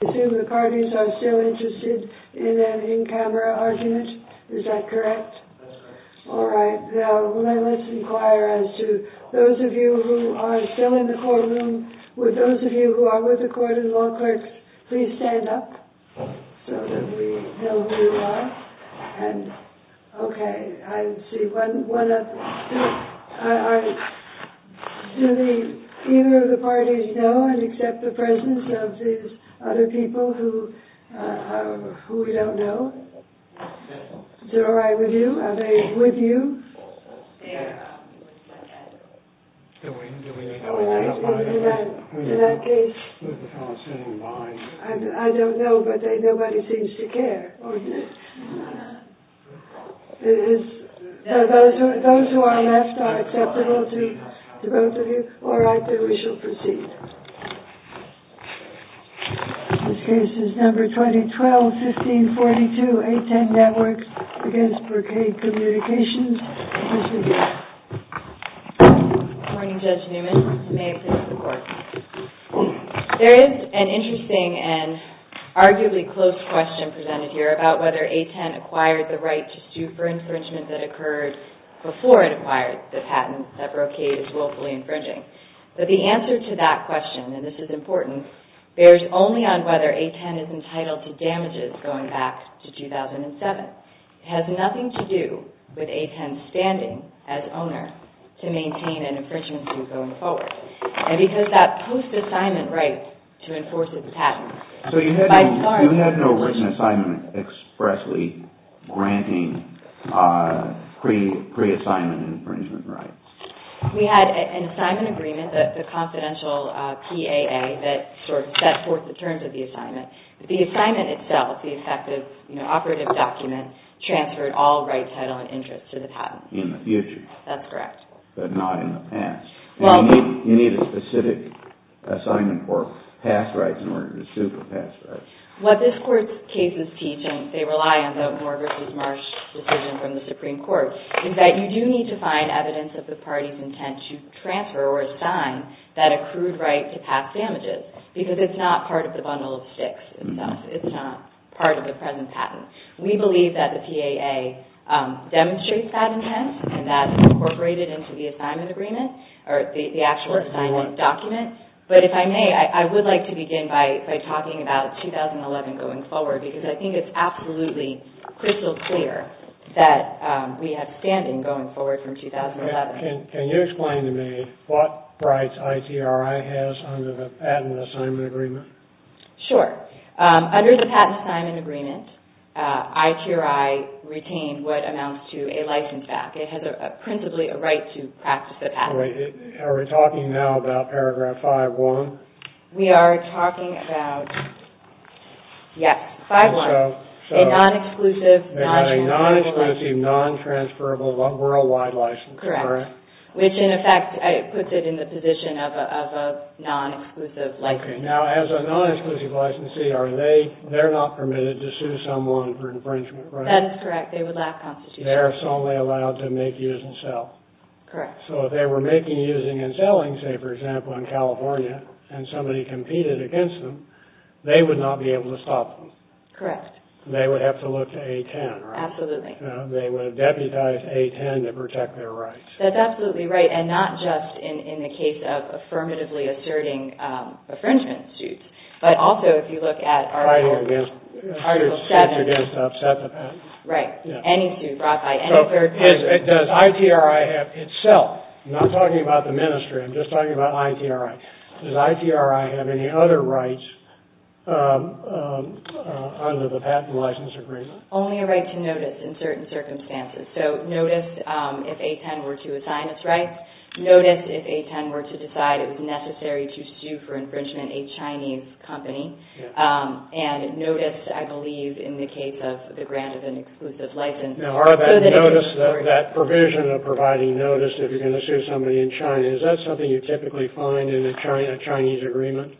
Assume the parties are still interested in an in-camera argument, is that correct? That's correct. All right. Now, let's inquire as to those of you who are still in the courtroom, would those of you who are with the court and law clerks, please stand up so that we know who you are. And, okay, I see one up. Do either of the parties know and accept the presence of these other people who we don't know? Is it all right with you? Are they with you? They're with each other. Do we need to identify them? In that case, I don't know, but nobody seems to care. Those who are left are acceptable to both of you. All right, then, we shall proceed. This case is number 2012-1542, A10 NETWORKS v. BROCADE COMMUNICATIONS. Good morning, Judge Newman. May it please the Court. There is an interesting and arguably close question presented here about whether A10 acquired the right to sue for infringement that occurred before it acquired the patent that BROCADE is willfully infringing. But the answer to that question, and this is important, bears only on whether A10 is entitled to damages going back to 2007. It has nothing to do with A10's standing as owner to maintain an infringement suit going forward. And because that post-assignment right to enforce the patent... So you had no written assignment expressly granting pre-assignment infringement rights? We had an assignment agreement, the confidential PAA, that sort of set forth the terms of the assignment. The assignment itself, the effective operative document, transferred all rights, title, and interests to the patent. In the future? That's correct. But not in the past? You need a specific assignment or pass rights in order to sue for pass rights. What this Court's cases teach, and they rely on the Morgers v. Marsh decision from the Supreme Court, is that you do need to find evidence of the party's intent to transfer or assign that accrued right to pass damages, because it's not part of the bundle of sticks itself. It's not part of the present patent. We believe that the PAA demonstrates that intent, and that's incorporated into the assignment agreement, or the actual assignment document. But if I may, I would like to begin by talking about 2011 going forward, because I think it's absolutely crystal clear that we have standing going forward from 2011. Can you explain to me what rights ITRI has under the patent assignment agreement? Sure. Under the patent assignment agreement, ITRI retained what amounts to a license back. It has, principally, a right to practice that asset. Are we talking now about paragraph 5.1? We are talking about, yes, 5.1. A non-exclusive, non-transferable, worldwide license. Correct. Which, in effect, puts it in the position of a non-exclusive license. Okay. Now, as a non-exclusive licensee, they're not permitted to sue someone for infringement, right? That is correct. They would not constitute that. They're solely allowed to make use and sell. Correct. So if they were making, using, and selling, say, for example, in California, and somebody competed against them, they would not be able to stop them. Correct. They would have to look to A-10, right? Absolutely. They would have deputized A-10 to protect their rights. That's absolutely right. And not just in the case of affirmatively asserting infringement suits, but also if you look at Article 7. Fighting against the upset of that. Right. Right. Any suit brought by any third party. So does ITRI have itself, I'm not talking about the Ministry, I'm just talking about ITRI, does ITRI have any other rights under the patent license agreement? Only a right to notice in certain circumstances. So notice if A-10 were to assign its rights. Notice if A-10 were to decide it was necessary to sue for infringement a Chinese company. And notice, I believe, in the case of the grant of an exclusive license. Now, are that notice, that provision of providing notice if you're going to sue somebody in China, is that something you typically find in a Chinese agreement?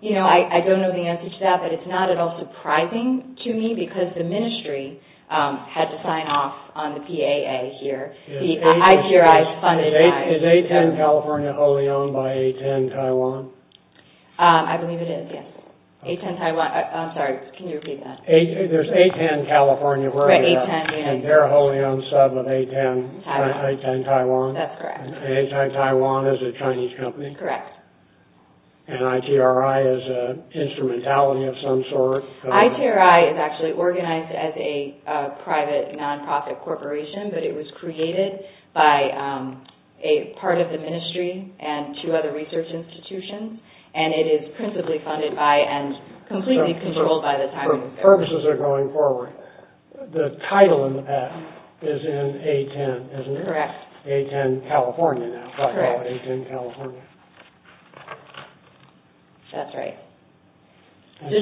You know, I don't know the answer to that, but it's not at all surprising to me because the Ministry had to sign off on the PAA here. The ITRI funded by... Is A-10 California wholly owned by A-10 Taiwan? I believe it is, yes. A-10 Taiwan. I'm sorry, can you repeat that? There's A-10 California. Right, A-10. And they're wholly owned sub of A-10 Taiwan. That's correct. And A-10 Taiwan is a Chinese company? Correct. And ITRI is an instrumentality of some sort? ITRI is actually organized as a private non-profit corporation, but it was created by a part of the Ministry and two other research institutions, and it is principally funded by and completely controlled by the Taiwan government. So, for purposes of going forward, the title in the PAA is in A-10, isn't it? Correct. A-10 California now, if I recall. Correct. A-10 California. That's right. And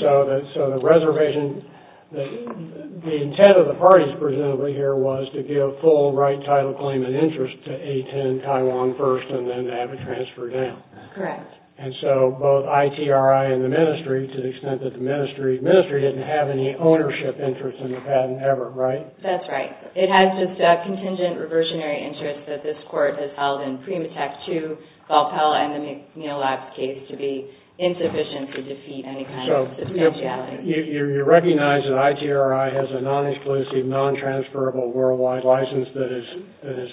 so the reservation, the intent of the parties presumably here was to give full right title claim and interest to A-10 Taiwan first and then to have it transferred down. Correct. And so both ITRI and the Ministry, to the extent that the Ministry didn't have any ownership interest in the patent ever, right? That's right. It has just a contingent reversionary interest that this court has held in Primatech II, Valpella, and the McNeill Labs case to be insufficient to defeat any kind of substantiality. You recognize that ITRI has a non-exclusive, non-transferable worldwide license that is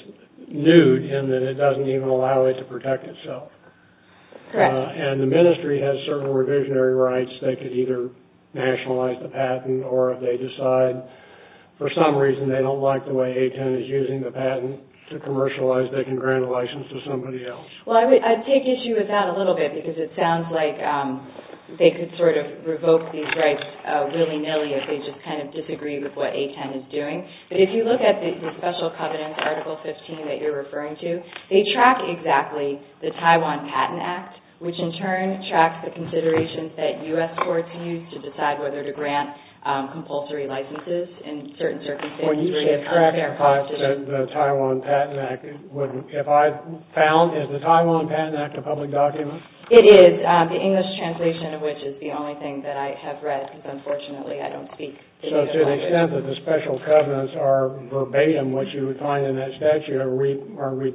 nude in that it doesn't even allow it to protect itself. Correct. And the Ministry has certain revisionary rights. They could either nationalize the patent or if they decide for some reason they don't like the way A-10 is using the patent to commercialize, they can grant a license to somebody else. Well, I take issue with that a little bit because it sounds like they could sort of write willy-nilly if they just kind of disagree with what A-10 is doing. But if you look at the special covenants, Article 15, that you're referring to, they track exactly the Taiwan Patent Act, which in turn tracks the considerations that U.S. courts use to decide whether to grant compulsory licenses in certain circumstances. Well, you can track the Taiwan Patent Act. If I found, is the Taiwan Patent Act a public document? It is. The English translation of which is the only thing that I have read because unfortunately I don't speak the native language. So to the extent that the special covenants are verbatim, which you would find in that statute, are we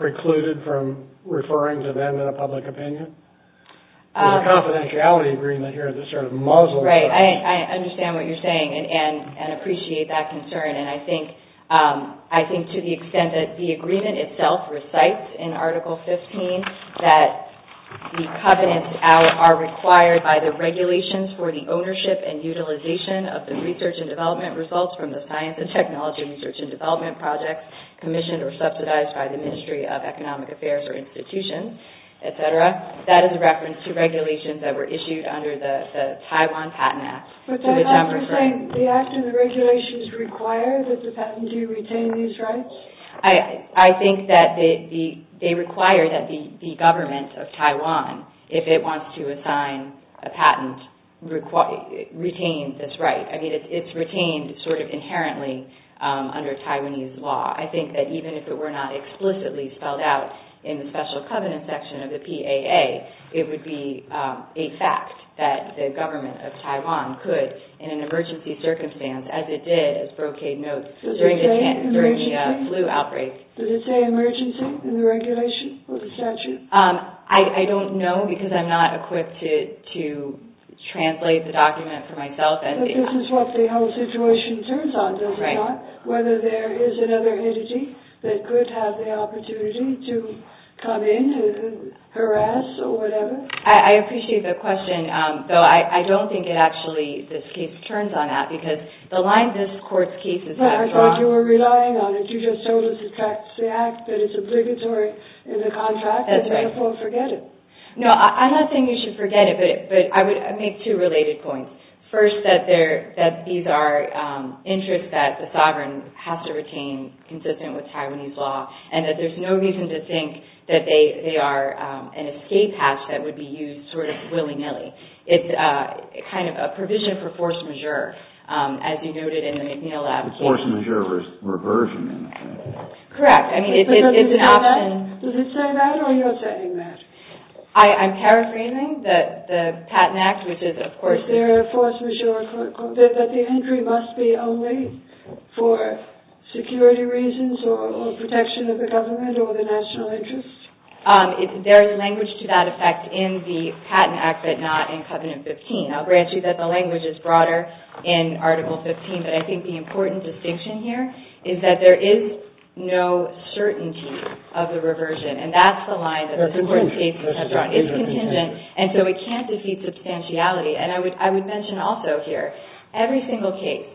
precluded from referring to them in a public opinion? There's a confidentiality agreement here that sort of muzzles us. Right. I understand what you're saying and appreciate that concern. And I think to the extent that the agreement itself recites in Article 15 that the covenants are required by the regulations for the ownership and utilization of the research and development results from the science and technology research and development projects commissioned or subsidized by the Ministry of Economic Affairs or institutions, et cetera, that is a reference to regulations that were issued under the Taiwan Patent Act. But does that mean the act and the regulations require that the patent do retain these rights? I think that they require that the government of Taiwan, if it wants to assign a patent, retain this right. I mean, it's retained sort of inherently under Taiwanese law. I think that even if it were not explicitly spelled out in the special covenant section of the PAA, it would be a fact that the government of Taiwan could, in an emergency circumstance, as it did, as Brocade notes, during the flu outbreak. Does it say emergency in the regulation or the statute? I don't know because I'm not equipped to translate the document for myself. But this is what the whole situation turns on, does it not? Right. So there is another entity that could have the opportunity to come in and harass or whatever? I appreciate the question, though I don't think it actually, this case turns on that because the line this court's case is not drawn. But I thought you were relying on it. You just told us it's actually an act that is obligatory in the contract. That's right. And therefore forget it. No, I'm not saying you should forget it, but I would make two related points. First, that these are interests that the sovereign has to retain consistent with Taiwanese law and that there's no reason to think that they are an escape hatch that would be used sort of willy-nilly. It's kind of a provision for force majeure, as you noted in the McNeill application. Force majeure reversion. Correct. I mean, it's an option. Does it say that or you're saying that? I'm paraphrasing the Patent Act, which is, of course— Is there a force majeure that the entry must be only for security reasons or protection of the government or the national interest? There is language to that effect in the Patent Act, but not in Covenant 15. I'll grant you that the language is broader in Article 15, but I think the important distinction here is that there is no certainty of the reversion, and that's the line that this Court's case has drawn. It's contingent, and so it can't defeat substantiality. And I would mention also here, every single case,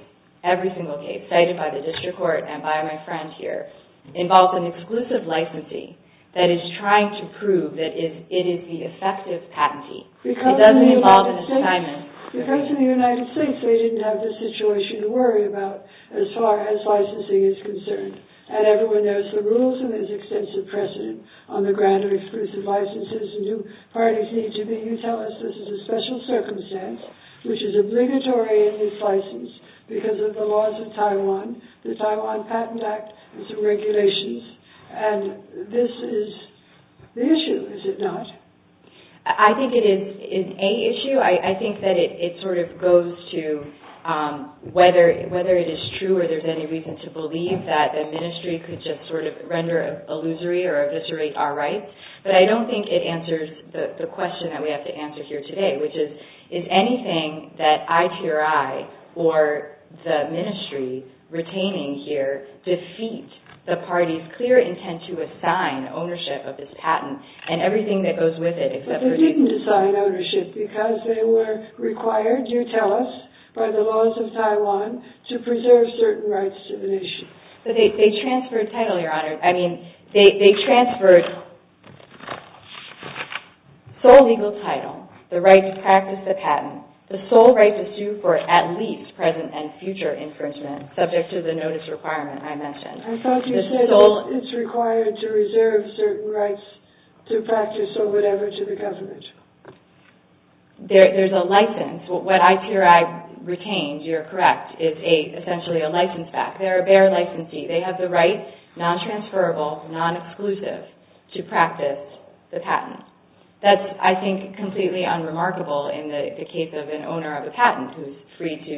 every single case, cited by the District Court and by my friend here, involves an exclusive licensing that is trying to prove that it is the effective patentee. It doesn't involve an assignment. Because in the United States, they didn't have the situation to worry about as far as licensing is concerned. And everyone knows the rules and there's extensive precedent on the ground of exclusive licenses. New parties need to be—you tell us this is a special circumstance, which is obligatory in this license because of the laws of Taiwan, the Taiwan Patent Act, and some regulations. And this is the issue, is it not? I think it is a issue. I think that it sort of goes to whether it is true or there's any reason to believe that, a ministry could just sort of render an illusory or eviscerate our rights. But I don't think it answers the question that we have to answer here today, which is, is anything that IPRI or the ministry retaining here defeat the party's clear intent to assign ownership of this patent and everything that goes with it except for— But they didn't assign ownership because they were required, you tell us, by the laws of Taiwan to preserve certain rights to the nation. But they transferred title, Your Honor. I mean, they transferred sole legal title, the right to practice the patent, the sole right to sue for at least present and future infringement subject to the notice requirement I mentioned. I thought you said it's required to reserve certain rights to practice or whatever to the government. There's a license. What IPRI retained, you're correct, is essentially a license back. They're a bare licensee. They have the right, non-transferable, non-exclusive, to practice the patent. That's, I think, completely unremarkable in the case of an owner of a patent who's free to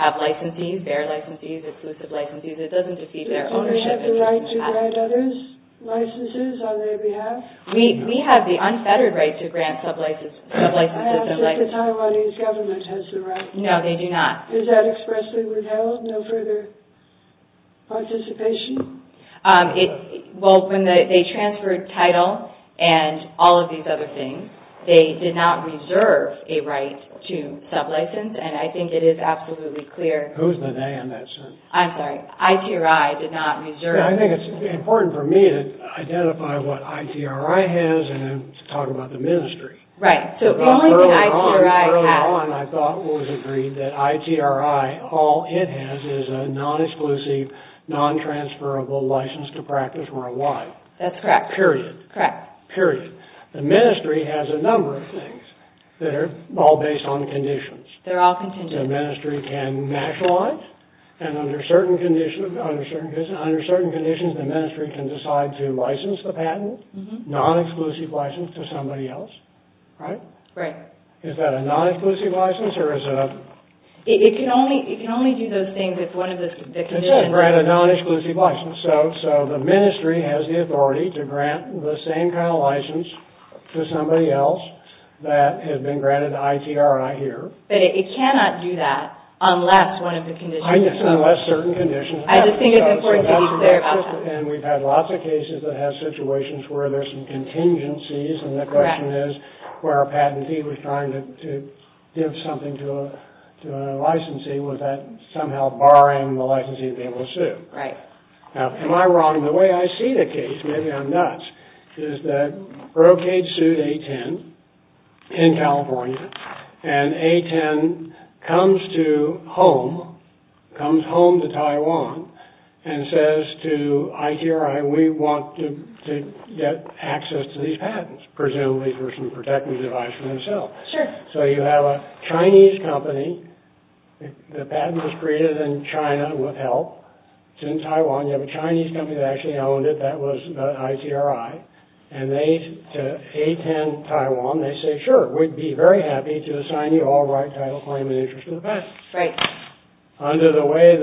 have licensees, bare licensees, exclusive licensees. It doesn't defeat their ownership of the patent. Don't they have the right to grant others licenses on their behalf? We have the unfettered right to grant sub-licenses and licensees. I ask if the Taiwanese government has the right. No, they do not. Is that expressly withheld? No further participation? Well, when they transferred title and all of these other things, they did not reserve a right to sub-license, and I think it is absolutely clear. Who's the they in that sense? I'm sorry. IPRI did not reserve. I think it's important for me to identify what IPRI has and then talk about the ministry. Right. Early on, I thought it was agreed that IPRI, all it has is a non-exclusive, non-transferable license to practice worldwide. That's correct. Period. Period. The ministry has a number of things that are all based on conditions. They're all conditions. The ministry can nationalize, and under certain conditions, the ministry can decide to license the patent, non-exclusive license, to somebody else. Right? Right. Is that a non-exclusive license or is it a... It can only do those things if one of the conditions... It can grant a non-exclusive license. So the ministry has the authority to grant the same kind of license to somebody else that has been granted IPRI here. But it cannot do that unless one of the conditions... Unless certain conditions... I just think it's important to be clear about that. And we've had lots of cases that have situations where there's some contingencies, and the question is, where a patentee was trying to give something to a licensee, was that somehow barring the licensee from being able to sue? Right. Now, am I wrong? The way I see the case, maybe I'm nuts, is that Brocade sued A10 in California, and A10 comes to home, comes home to Taiwan, and says to ITRI, we want to get access to these patents, presumably for some protective device for themselves. Sure. So you have a Chinese company, the patent was created in China with help, it's in Taiwan, you have a Chinese company that actually owned it, that was ITRI, and they, to A10 Taiwan, they say, sure, we'd be very happy to assign you all the right title, claim, and interest of the patent. Right. Under the lay of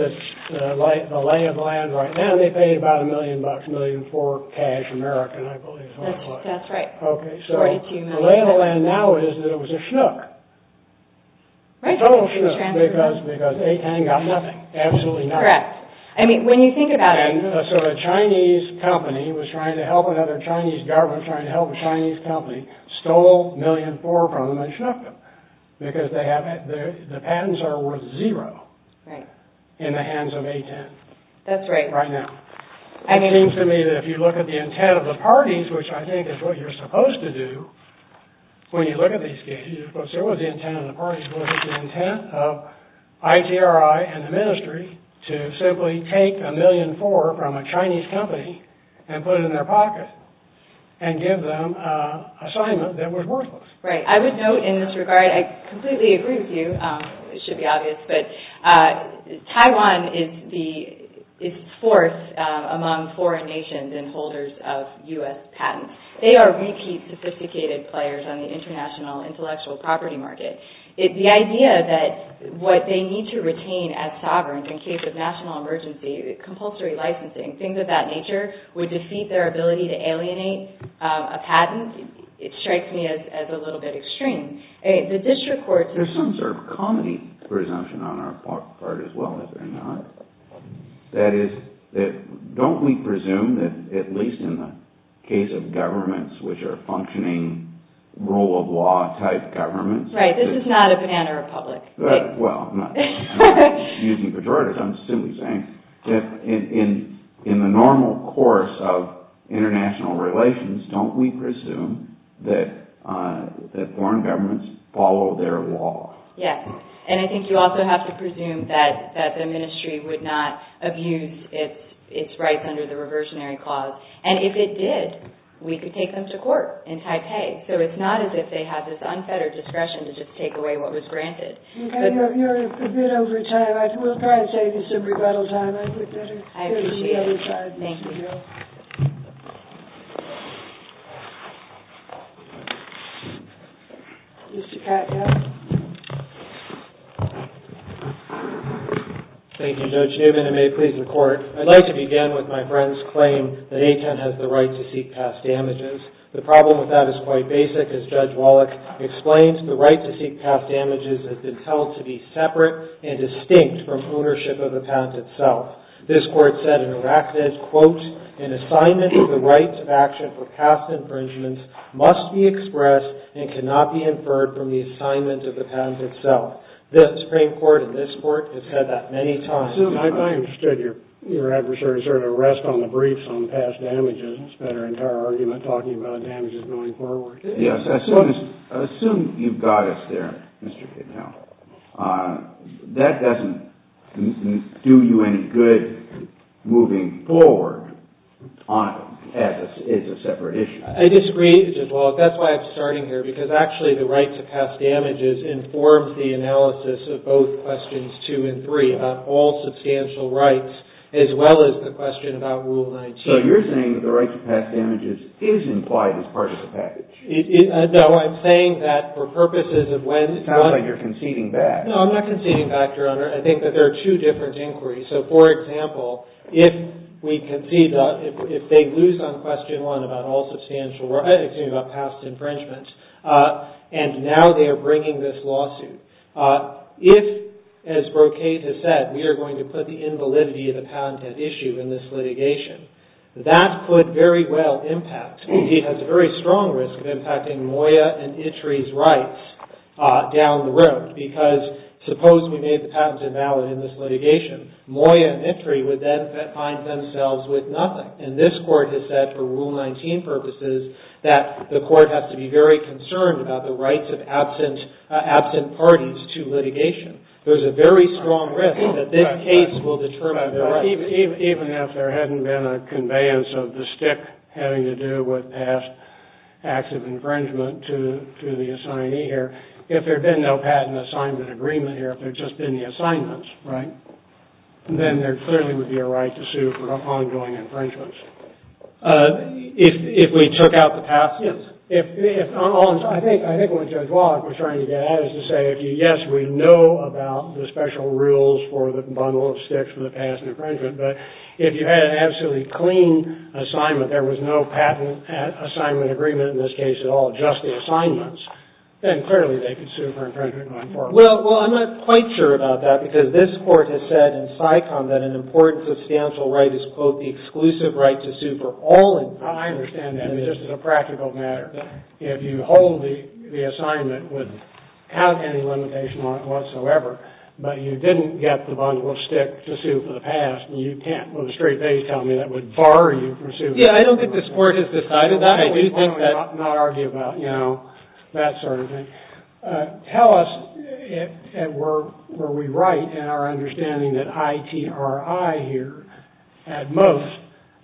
the land right now, they paid about a million bucks, a million for cash, American, I believe is what it was. That's right. Okay, so the lay of the land now is that it was a schnook. Right. A total schnook, because A10 got nothing. Absolutely nothing. Correct. I mean, when you think about it... So the Chinese company was trying to help another Chinese government, trying to help a Chinese company, stole a million for them and schnook them, because they have, the patents are worth zero. Right. In the hands of A10. That's right. Right now. And it seems to me that if you look at the intent of the parties, which I think is what you're supposed to do when you look at these cases, because there was the intent of the parties, to simply take a million for from a Chinese company and put it in their pocket and give them an assignment that was worthless. Right. I would note in this regard, I completely agree with you, it should be obvious, but Taiwan is fourth among foreign nations and holders of U.S. patents. They are repeat sophisticated players on the international intellectual property market. The idea that what they need to retain as sovereign in case of national emergency, compulsory licensing, things of that nature, would defeat their ability to alienate a patent, it strikes me as a little bit extreme. There's some sort of comedy presumption on our part as well, is there not? That is, don't we presume that at least in the case of governments which are functioning rule of law type governments. Right, this is not a banana republic. Well, I'm not using pejoratives, I'm simply saying, in the normal course of international relations, don't we presume that foreign governments follow their law? Yes. And I think you also have to presume that the ministry would not abuse its rights under the reversionary clause. And if it did, we could take them to court in Taipei. So it's not as if they have this unfettered discretion to just take away what was granted. You're a bit over time. We'll try to save you some rebuttal time. I appreciate it. Thank you. Thank you, Judge Newman, and may it please the court. I'd like to begin with my friend's claim that AITEN has the right to seek past damages. The problem with that is quite basic. As Judge Wallach explains, the right to seek past damages has been held to be separate and distinct from ownership of the patent itself. This court said and enacted, quote, an assignment of the rights of action for past infringements must be expressed and cannot be inferred from the assignment of the patent itself. This Supreme Court and this court have said that many times. I understood your adversary's arrest on the briefs on past damages. It's been our entire argument talking about damages going forward. Yes. Assume you've got us there, Mr. Kidnell. That doesn't do you any good moving forward as it's a separate issue. I disagree, Judge Wallach. That's why I'm starting here, because actually the right to past damages informs the analysis of both questions two and three about all substantial rights as well as the question about Rule 19. So you're saying that the right to past damages is implied as part of the package? No, I'm saying that for purposes of when- It sounds like you're conceding back. No, I'm not conceding back, Your Honor. I think that there are two different inquiries. So, for example, if we concede that if they lose on question one about all substantial rights, and now they're bringing this lawsuit. If, as Brocade has said, we are going to put the invalidity of the patent at issue in this litigation, that could very well impact. It has a very strong risk of impacting Moya and Ittry's rights down the road, because suppose we made the patent invalid in this litigation. Moya and Ittry would then find themselves with nothing. And this court has said, for Rule 19 purposes, that the court has to be very concerned about the rights of absent parties to litigation. There's a very strong risk that this case will determine their rights. Even if there hadn't been a conveyance of the stick having to do with past acts of infringement to the assignee here, if there had been no patent assignment agreement here, if there had just been the assignments, right, then there clearly would be a right to sue for ongoing infringements. If we took out the past? Yes. I think what Judge Watt was trying to get at is to say, yes, we know about the special rules for the bundle of sticks for the past infringement, but if you had an absolutely clean assignment, there was no patent assignment agreement in this case at all, just the assignments, then clearly they could sue for infringement going forward. Well, I'm not quite sure about that, because this court has said in SICOM that an important substantial right is, quote, the exclusive right to sue for all infringements. I understand that, just as a practical matter. If you hold the assignment, it wouldn't have any limitation whatsoever, but you didn't get the bundle of sticks to sue for the past, and you can't with a straight face tell me that would bar you from suing. Yeah, I don't think this court has decided that. I do not argue about that sort of thing. Tell us, were we right in our understanding that ITRI here, at most,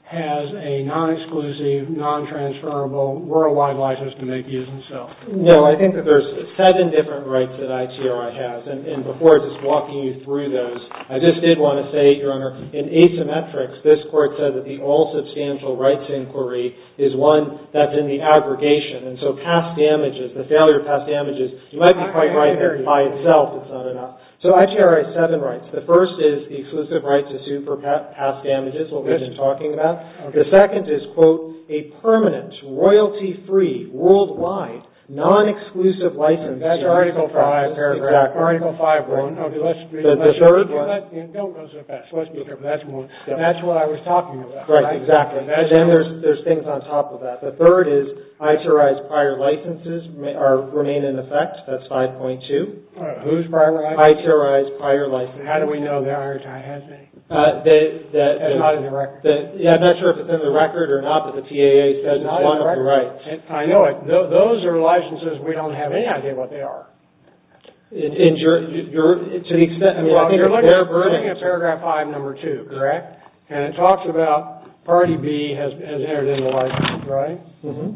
has a non-exclusive, non-transferable, worldwide license to make use of itself? No, I think that there's seven different rights that ITRI has, and before I just walk you through those, I just did want to say, Your Honor, in asymmetrics, this court said that the all-substantial rights inquiry is one that's in the aggregation, and so past damages, the failure of past damages, you might be quite right there. By itself, it's not enough. So ITRI has seven rights. The first is the exclusive right to sue for past damages, what we've been talking about. The second is, quote, a permanent, royalty-free, worldwide, non-exclusive license. That's Article 5. Exactly. Article 5. Don't go so fast. Let's be careful. That's what I was talking about. Right, exactly. And then there's things on top of that. The third is, ITRI's prior licenses remain in effect. That's 5.2. Whose prior licenses? ITRI's prior licenses. How do we know that IRTI has any? That's not in the record. Yeah, I'm not sure if it's in the record or not, but the TAA says it's one of the rights. I know it. Those are licenses. We don't have any idea what they are. To the extent, I mean, I think they're burning. You're looking at Paragraph 5, Number 2, correct? And it talks about Party B has entered into licenses, right? Mm-hmm.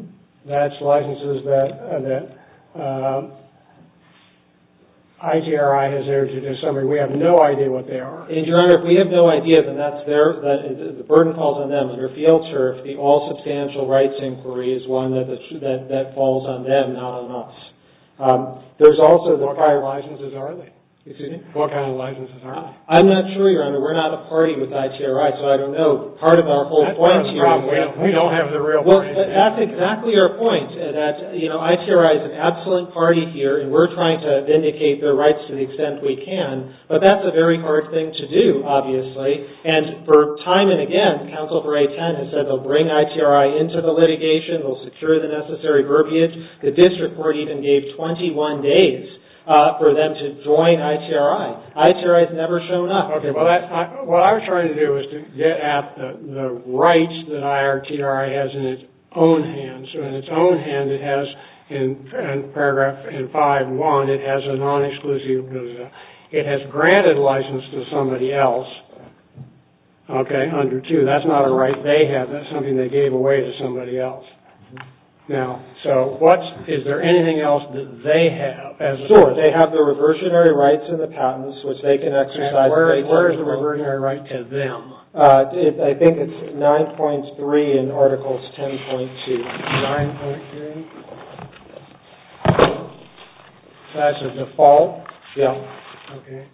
That's licenses that ITRI has entered into. In summary, we have no idea what they are. And, Your Honor, if we have no idea that that's theirs, the burden falls on them. Under field turf, the all-substantial rights inquiry is one that falls on them, not on us. What kind of licenses are they? Excuse me? What kind of licenses are they? I'm not sure, Your Honor. We're not a party with ITRI, so I don't know. Part of our whole point here is... That's part of the problem. We don't have the real brain. Well, that's exactly your point, that ITRI is an absolute party here, and we're trying to vindicate their rights to the extent we can. But that's a very hard thing to do, obviously. And for time and again, Counsel for 810 has said they'll bring ITRI into the litigation. They'll secure the necessary verbiage. The district court even gave 21 days for them to join ITRI. ITRI has never shown up. Okay. Well, what I was trying to do was to get at the rights that IRTRI has in its own hands. So in its own hands, it has in paragraph 5-1, it has a non-exclusive... It has granted license to somebody else, okay, under 2. That's not a right they have. That's something they gave away to somebody else. Now, so what's... Is there anything else that they have as a source? They have the reversionary rights and the patents, which they can exercise... And where is the reversionary right to them? I think it's 9.3 in articles 10.2. 9.3? That's a default? Yeah. Okay.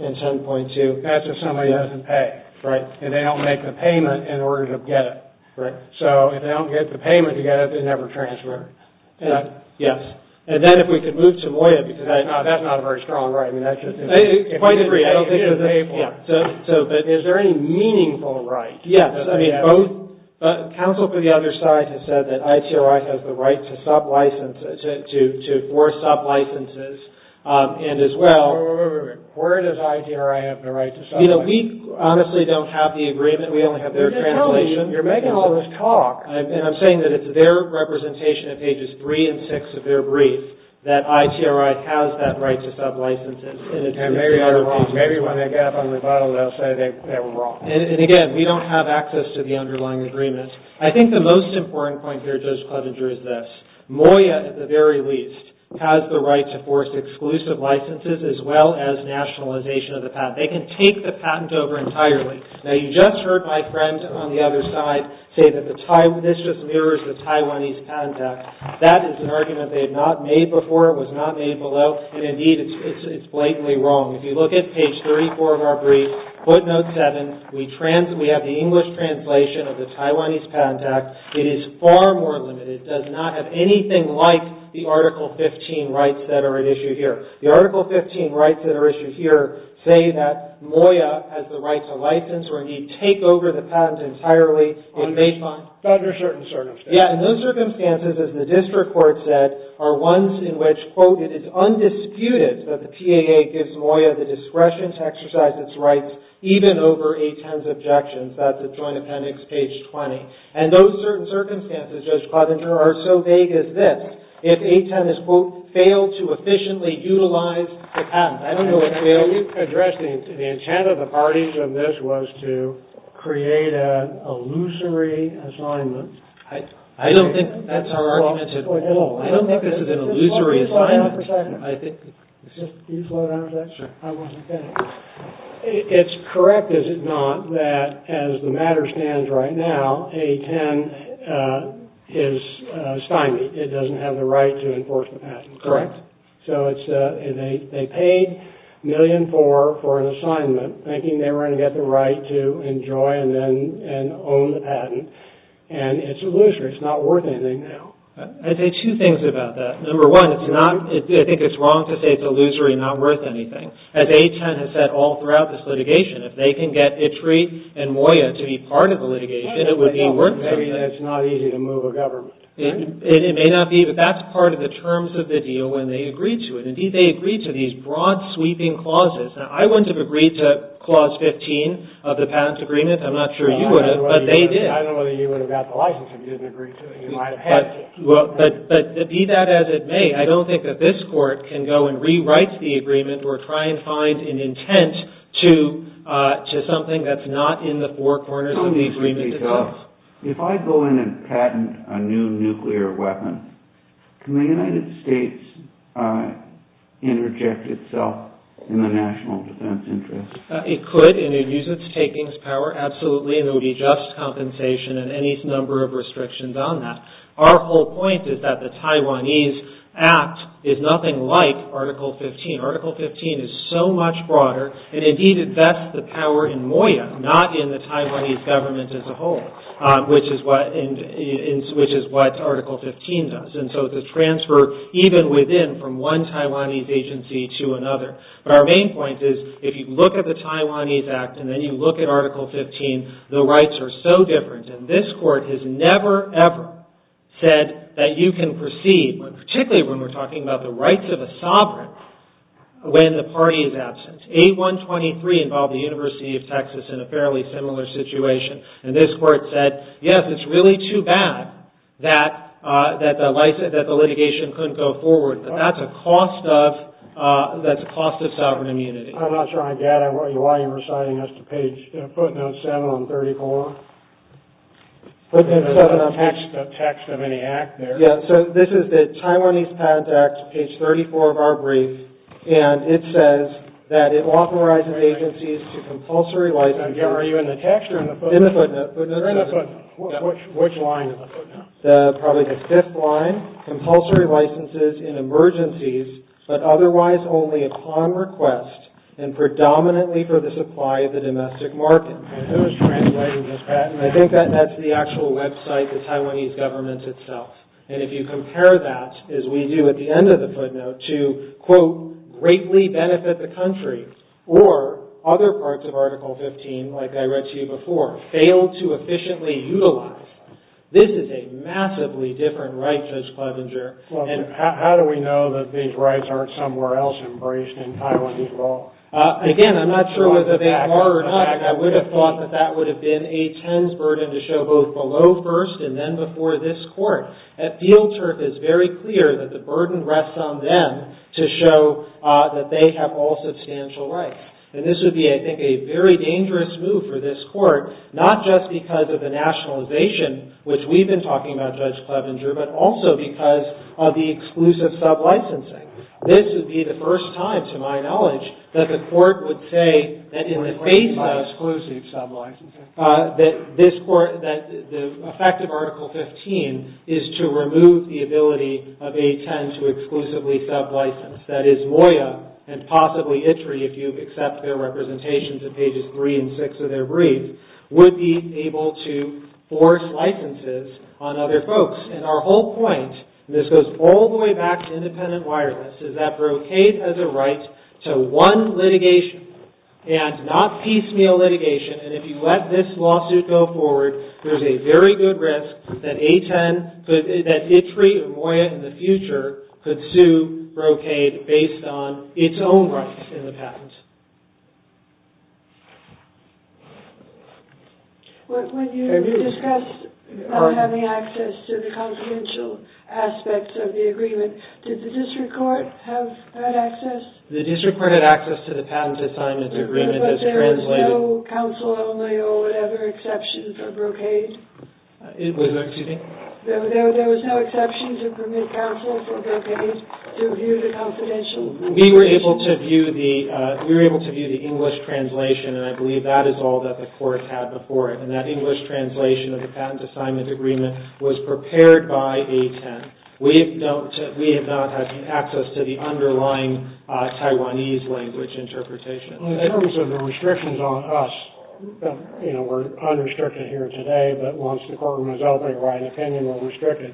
In 10.2. That's if somebody doesn't pay. Right. And they don't make the payment in order to get it. Right. So if they don't get the payment to get it, they never transfer it. Yes. And then if we could move to MOYA, because that's not a very strong right. I mean, that just... I quite agree. I don't think there's any point. So, but is there any meaningful right? Yes. I mean, both... Counsel for the other side has said that ITRI has the right to sub-licenses, to force sub-licenses, and as well... Wait, wait, wait. Where does ITRI have the right to sub-licenses? You know, we honestly don't have the agreement. We only have their translation. You're making all this talk. And I'm saying that it's their representation at pages three and six of their brief that ITRI has that right to sub-licenses. And maybe I'm wrong. Maybe when they get up on the bottle, they'll say they were wrong. And again, we don't have access to the underlying agreement. I think the most important point here, Judge Clevenger, is this. MOYA, at the very least, has the right to force exclusive licenses as well as nationalization of the patent. They can take the patent over entirely. Now, you just heard my friend on the other side say that this just mirrors the Taiwanese Patent Act. That is an argument they have not made before. It was not made below. And indeed, it's blatantly wrong. If you look at page 34 of our brief, footnote seven, we have the English translation of the Taiwanese Patent Act. It is far more limited. It does not have anything like the Article 15 rights that are at issue here. The Article 15 rights that are issued here say that MOYA has the right to license or indeed take over the patent entirely. It may not. But under certain circumstances. Yeah. And those circumstances, as the district court said, are ones in which, quote, it is undisputed that the PAA gives MOYA the discretion to exercise its rights even over A10's objections. That's at Joint Appendix, page 20. And those certain circumstances, Judge Clevenger, are so vague as this. If A10 has, quote, failed to efficiently utilize the patent. I don't know what failed you. You addressed the intent of the parties of this was to create an illusory assignment. I don't think that's our argument at all. I don't think this is an illusory assignment. I think. It's correct, is it not, that as the matter stands right now, A10 is stymied. It doesn't have the right to enforce the patent. Correct. So they paid a million for an assignment, thinking they were going to get the right to enjoy and own the patent. And it's illusory. It's not worth anything now. I'd say two things about that. Number one, I think it's wrong to say it's illusory and not worth anything. As A10 has said all throughout this litigation, if they can get ITRI and MOYA to be part of the litigation, it would be worth something. It's not easy to move a government. It may not be, but that's part of the terms of the deal when they agreed to it. Indeed, they agreed to these broad sweeping clauses. Now, I wouldn't have agreed to clause 15 of the patent agreement. I'm not sure you would have, but they did. I don't know whether you would have got the license if you didn't agree to it. You might have had to. But be that as it may, I don't think that this court can go and rewrite the agreement or try and find an intent to something that's not in the four corners of the agreement. If I go in and patent a new nuclear weapon, can the United States interject itself in the national defense interest? It could, and it would use its takings power absolutely, and there would be just compensation and any number of restrictions on that. Our whole point is that the Taiwanese Act is nothing like Article 15. Article 15 is so much broader, and indeed it vests the power in MOYA, not in the Taiwanese government as a whole, which is what Article 15 does. And so it's a transfer even within from one Taiwanese agency to another. But our main point is, if you look at the Taiwanese Act and then you look at Article 15, the rights are so different. And this court has never, ever said that you can proceed, particularly when we're talking about the rights of a sovereign, when the party is absent. A123 involved the University of Texas in a fairly similar situation, and this court said, yes, it's really too bad that the litigation couldn't go forward. But that's a cost of, that's a cost of sovereign immunity. I'm not sure I get it. Why are you reciting us to page, footnote 7 on 34? Footnote 7 on 34. There's no text of any act there. Yeah, so this is the Taiwanese Patent Act, page 34 of our brief, and it says that it authorizes agencies to compulsory license... Are you in the text or in the footnote? In the footnote. Which line of the footnote? Probably the fifth line. Compulsory licenses in emergencies, but otherwise only upon request, and predominantly for the supply of the domestic market. And who is translating this patent? I think that's the actual website, the Taiwanese government itself. And if you compare that, as we do at the end of the footnote, to, quote, greatly benefit the country, or other parts of Article 15, like I read to you before, failed to efficiently utilize, this is a massively different right, Judge Clevenger. How do we know that these rights aren't somewhere else embraced in Taiwanese law? Again, I'm not sure whether they are or not. In fact, I would have thought that that would have been a tense burden to show both below first and then before this Court. At field turf, it's very clear that the burden rests on them to show that they have all substantial And this would be, I think, a very dangerous move for this Court, not just because of the nationalization, which we've been talking about, Judge Clevenger, but also because of the exclusive sub-licensing. This would be the first time, to my knowledge, that the Court would say that in the face of exclusive sub-licensing, that the effect of Article 15 is to remove the ability of A10 to exclusively sub-license. That is, MOYA, and possibly ITRI, if you accept their representations in pages 3 and 6 of their brief, would be able to force licenses on other folks. And our whole point, and this goes all the way back to independent wireless, is that brocade has a right to one litigation and not piecemeal litigation. And if you let this lawsuit go forward, there's a very good risk that ITRI or MOYA in the future could sue brocade based on its own rights in the patent. When you discussed having access to the confidential aspects of the agreement, did the district court have that access? The district court had access to the patent assignment agreement as translated. But there was no counsel only or whatever exceptions for brocade? There was no exception to permit counsel for brocade to view the confidential. We were able to view the English translation, and I believe that is all that the court had before it. And that English translation of the patent assignment agreement was prepared by A10. We have not had access to the underlying Taiwanese language interpretation. In terms of the restrictions on us, you know, we're unrestricted here today, but once the courtroom is open, we're restricted.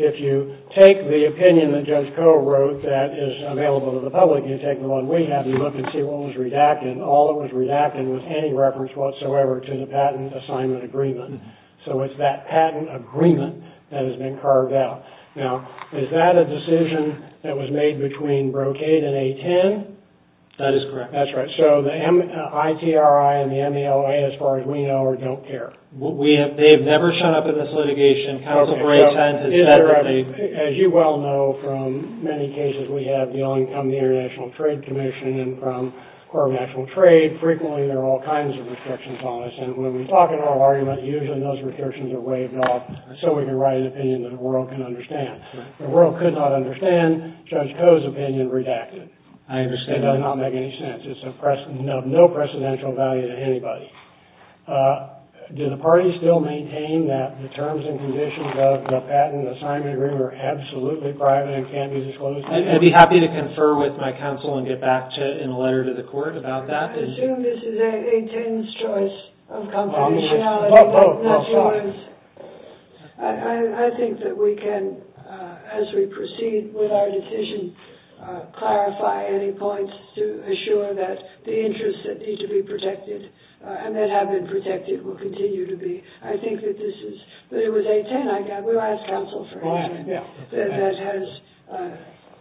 If you take the opinion that Judge Koh wrote that is available to the public, you take the one we have and look and see what was redacted, and all that was redacted was any reference whatsoever to the patent assignment agreement. So it's that patent agreement that has been carved out. Now, is that a decision that was made between brocade and A10? That is correct. That's right. So the ITRI and the MOYA, as far as we know, don't care. They have never shown up in this litigation. Counsel breaks heads, et cetera. As you well know, from many cases we have, beyond from the International Trade Commission and from the Court of National Trade, frequently there are all kinds of restrictions on us. And when we talk in oral argument, usually those restrictions are waived off so we can write an opinion that the world can understand. The world could not understand Judge Koh's opinion redacted. I understand. It does not make any sense. It's of no precedential value to anybody. Do the parties still maintain that the terms and conditions of the patent assignment agreement are absolutely private and can't be disclosed? I'd be happy to confer with my counsel and get back to you in a letter to the court about that. I assume this is A10's choice of confidentiality. Oh, sorry. I think that we can, as we proceed with our decision, clarify any points to assure that the interests that need to be protected and that have been protected will continue to be. I think that this is, that it was A10, we'll ask counsel for A10, that has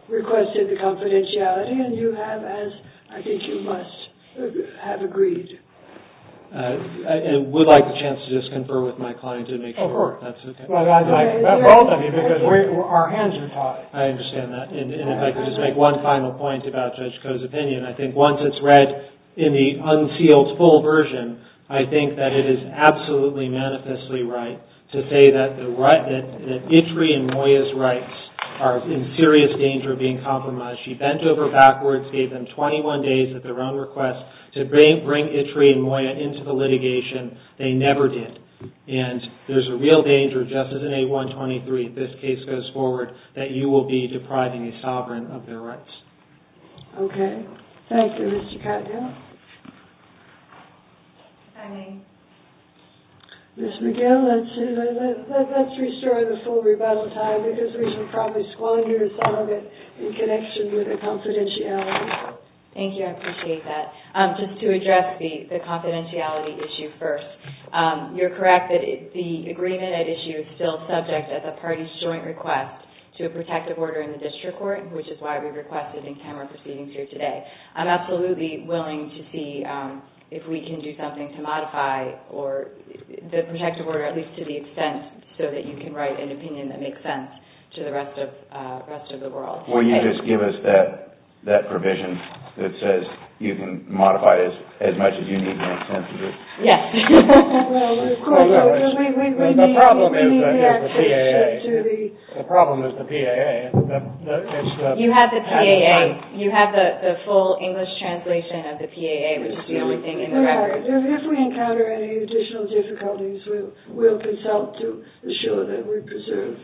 requested the confidentiality and you have as, I think you must have agreed. I would like a chance to just confer with my client and make sure that's okay. Well, both of you because our hands are tied. I understand that. And if I could just make one final point about Judge Koh's opinion. I think once it's read in the unsealed full version, I think that it is absolutely manifestly right to say that the right, that Itri and Moya's rights are in serious danger of being compromised. She bent over backwards, gave them 21 days at their own request to bring Itri and Moya into the litigation. They never did. And there's a real danger just as in A123, if this case goes forward, that you will be depriving a sovereign of their rights. Okay. Thank you, Mr. Cottingill. If I may. Ms. McGill, let's restore the full rebuttal time because we should probably squander some of it in connection with the confidentiality. Thank you. I appreciate that. Just to address the confidentiality issue first. You're correct that the agreement at issue is still subject as a party's joint request to a protective order in the district court, which is why we requested an interim proceeding through today. I'm absolutely willing to see if we can do something to modify the protective order, at least to the extent so that you can write an opinion that makes sense to the rest of the world. Will you just give us that provision that says you can modify it as much as you need to make sense of it? Yes. The problem is the PAA. The problem is the PAA. You have the PAA. You have the full English translation of the PAA, which is the only thing in the record. We are. If we encounter any additional difficulties, we'll consult to assure that we preserve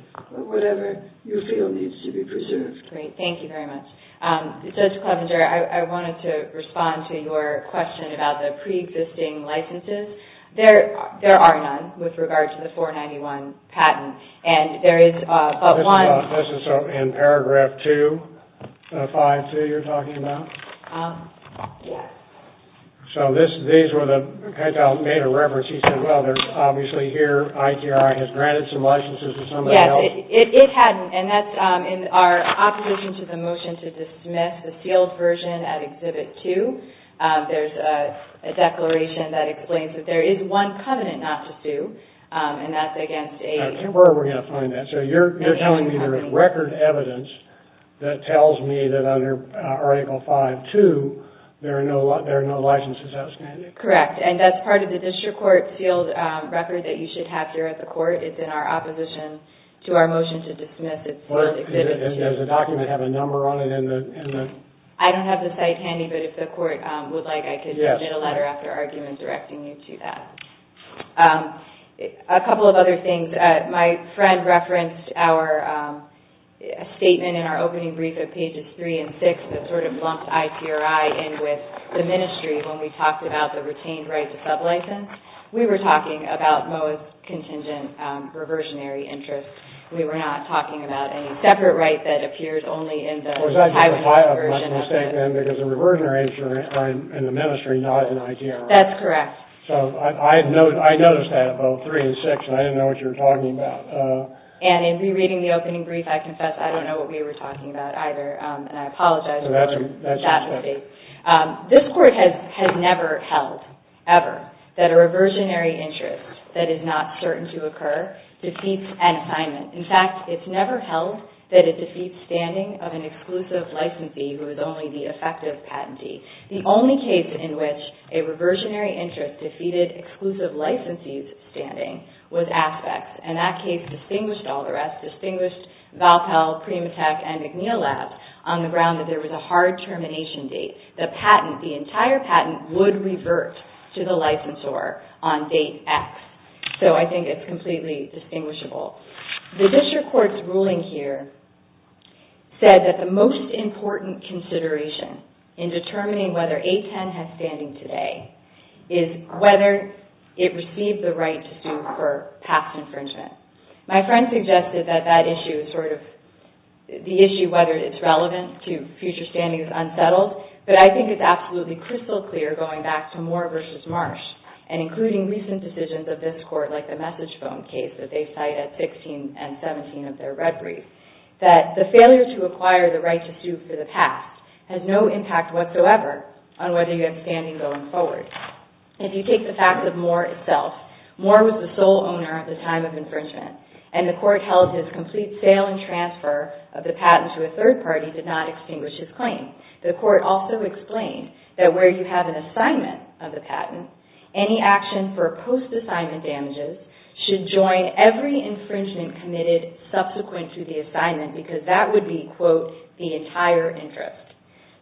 whatever you feel needs to be preserved. Great. Thank you very much. Judge Clevenger, I wanted to respond to your question about the pre-existing licenses. There are none with regard to the 491 patent. This is in paragraph 2, 5-2 you're talking about? Yes. So these were the – he made a reference. He said, well, there's obviously here ITI has granted some licenses to somebody else. It hadn't. And that's in our opposition to the motion to dismiss the sealed version at Exhibit 2. There's a declaration that explains that there is one covenant not to sue, and that's against – Where are we going to find that? So you're telling me there is record evidence that tells me that under Article 5-2 there are no licenses outstanding? Correct. And that's part of the district court sealed record that you should have here at the court. It's in our opposition to our motion to dismiss its sealed Exhibit 2. And does the document have a number on it in the – I don't have the site handy, but if the court would like, I could submit a letter after argument directing you to that. A couple of other things. My friend referenced our statement in our opening brief of pages 3 and 6 that sort of lumped IPRI in with the Ministry when we talked about the retained right to sublicense. We were talking about Moa's contingent reversionary interest. We were not talking about any separate right that appears only in the – Was I doing a mistake then? Because the reversionary interest in the Ministry, not in IPRI. That's correct. So I noticed that about 3 and 6, and I didn't know what you were talking about. And in rereading the opening brief, I confess I don't know what we were talking about either, and I apologize for that mistake. This Court has never held, ever, that a reversionary interest that is not certain to occur defeats an assignment. In fact, it's never held that it defeats standing of an exclusive licensee who is only the effective patentee. The only case in which a reversionary interest defeated exclusive licensee's standing was Aspects. And that case distinguished all the rest, distinguished Valpell, Primatech, and McNeil Labs, on the ground that there was a hard termination date. The patent, the entire patent, would revert to the licensor on date X. So I think it's completely distinguishable. The District Court's ruling here said that the most important consideration in determining whether A10 has standing today is whether it received the right to sue for past infringement. My friend suggested that the issue, whether it's relevant to future standings, is unsettled. But I think it's absolutely crystal clear, going back to Moore v. Marsh, and including recent decisions of this Court, like the message phone case that they cite at 16 and 17 of their red briefs, that the failure to acquire the right to sue for the past has no impact whatsoever on whether you have standing going forward. If you take the fact of Moore itself, Moore was the sole owner at the time of infringement, and the Court held his complete sale and transfer of the patent to a third party did not extinguish his claim. The Court also explained that where you have an assignment of the patent, any action for post-assignment damages should join every infringement committed subsequent to the assignment, because that would be, quote, the entire interest.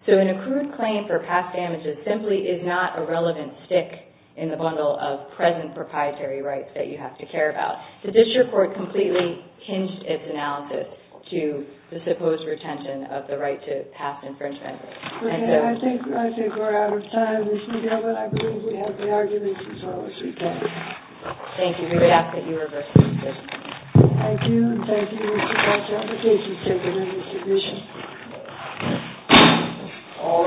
So an accrued claim for past damages simply is not a relevant stick in the bundle of present proprietary rights that you have to care about. The district court completely hinged its analysis to the supposed retention of the right to past infringement. Okay, I think we're out of time, Ms. Newgill, but I believe we have the arguments and solace we can. Thank you. We would ask that you reverse the position. Thank you, and thank you, Mr. Fletcher, for taking such an interesting position. All rise.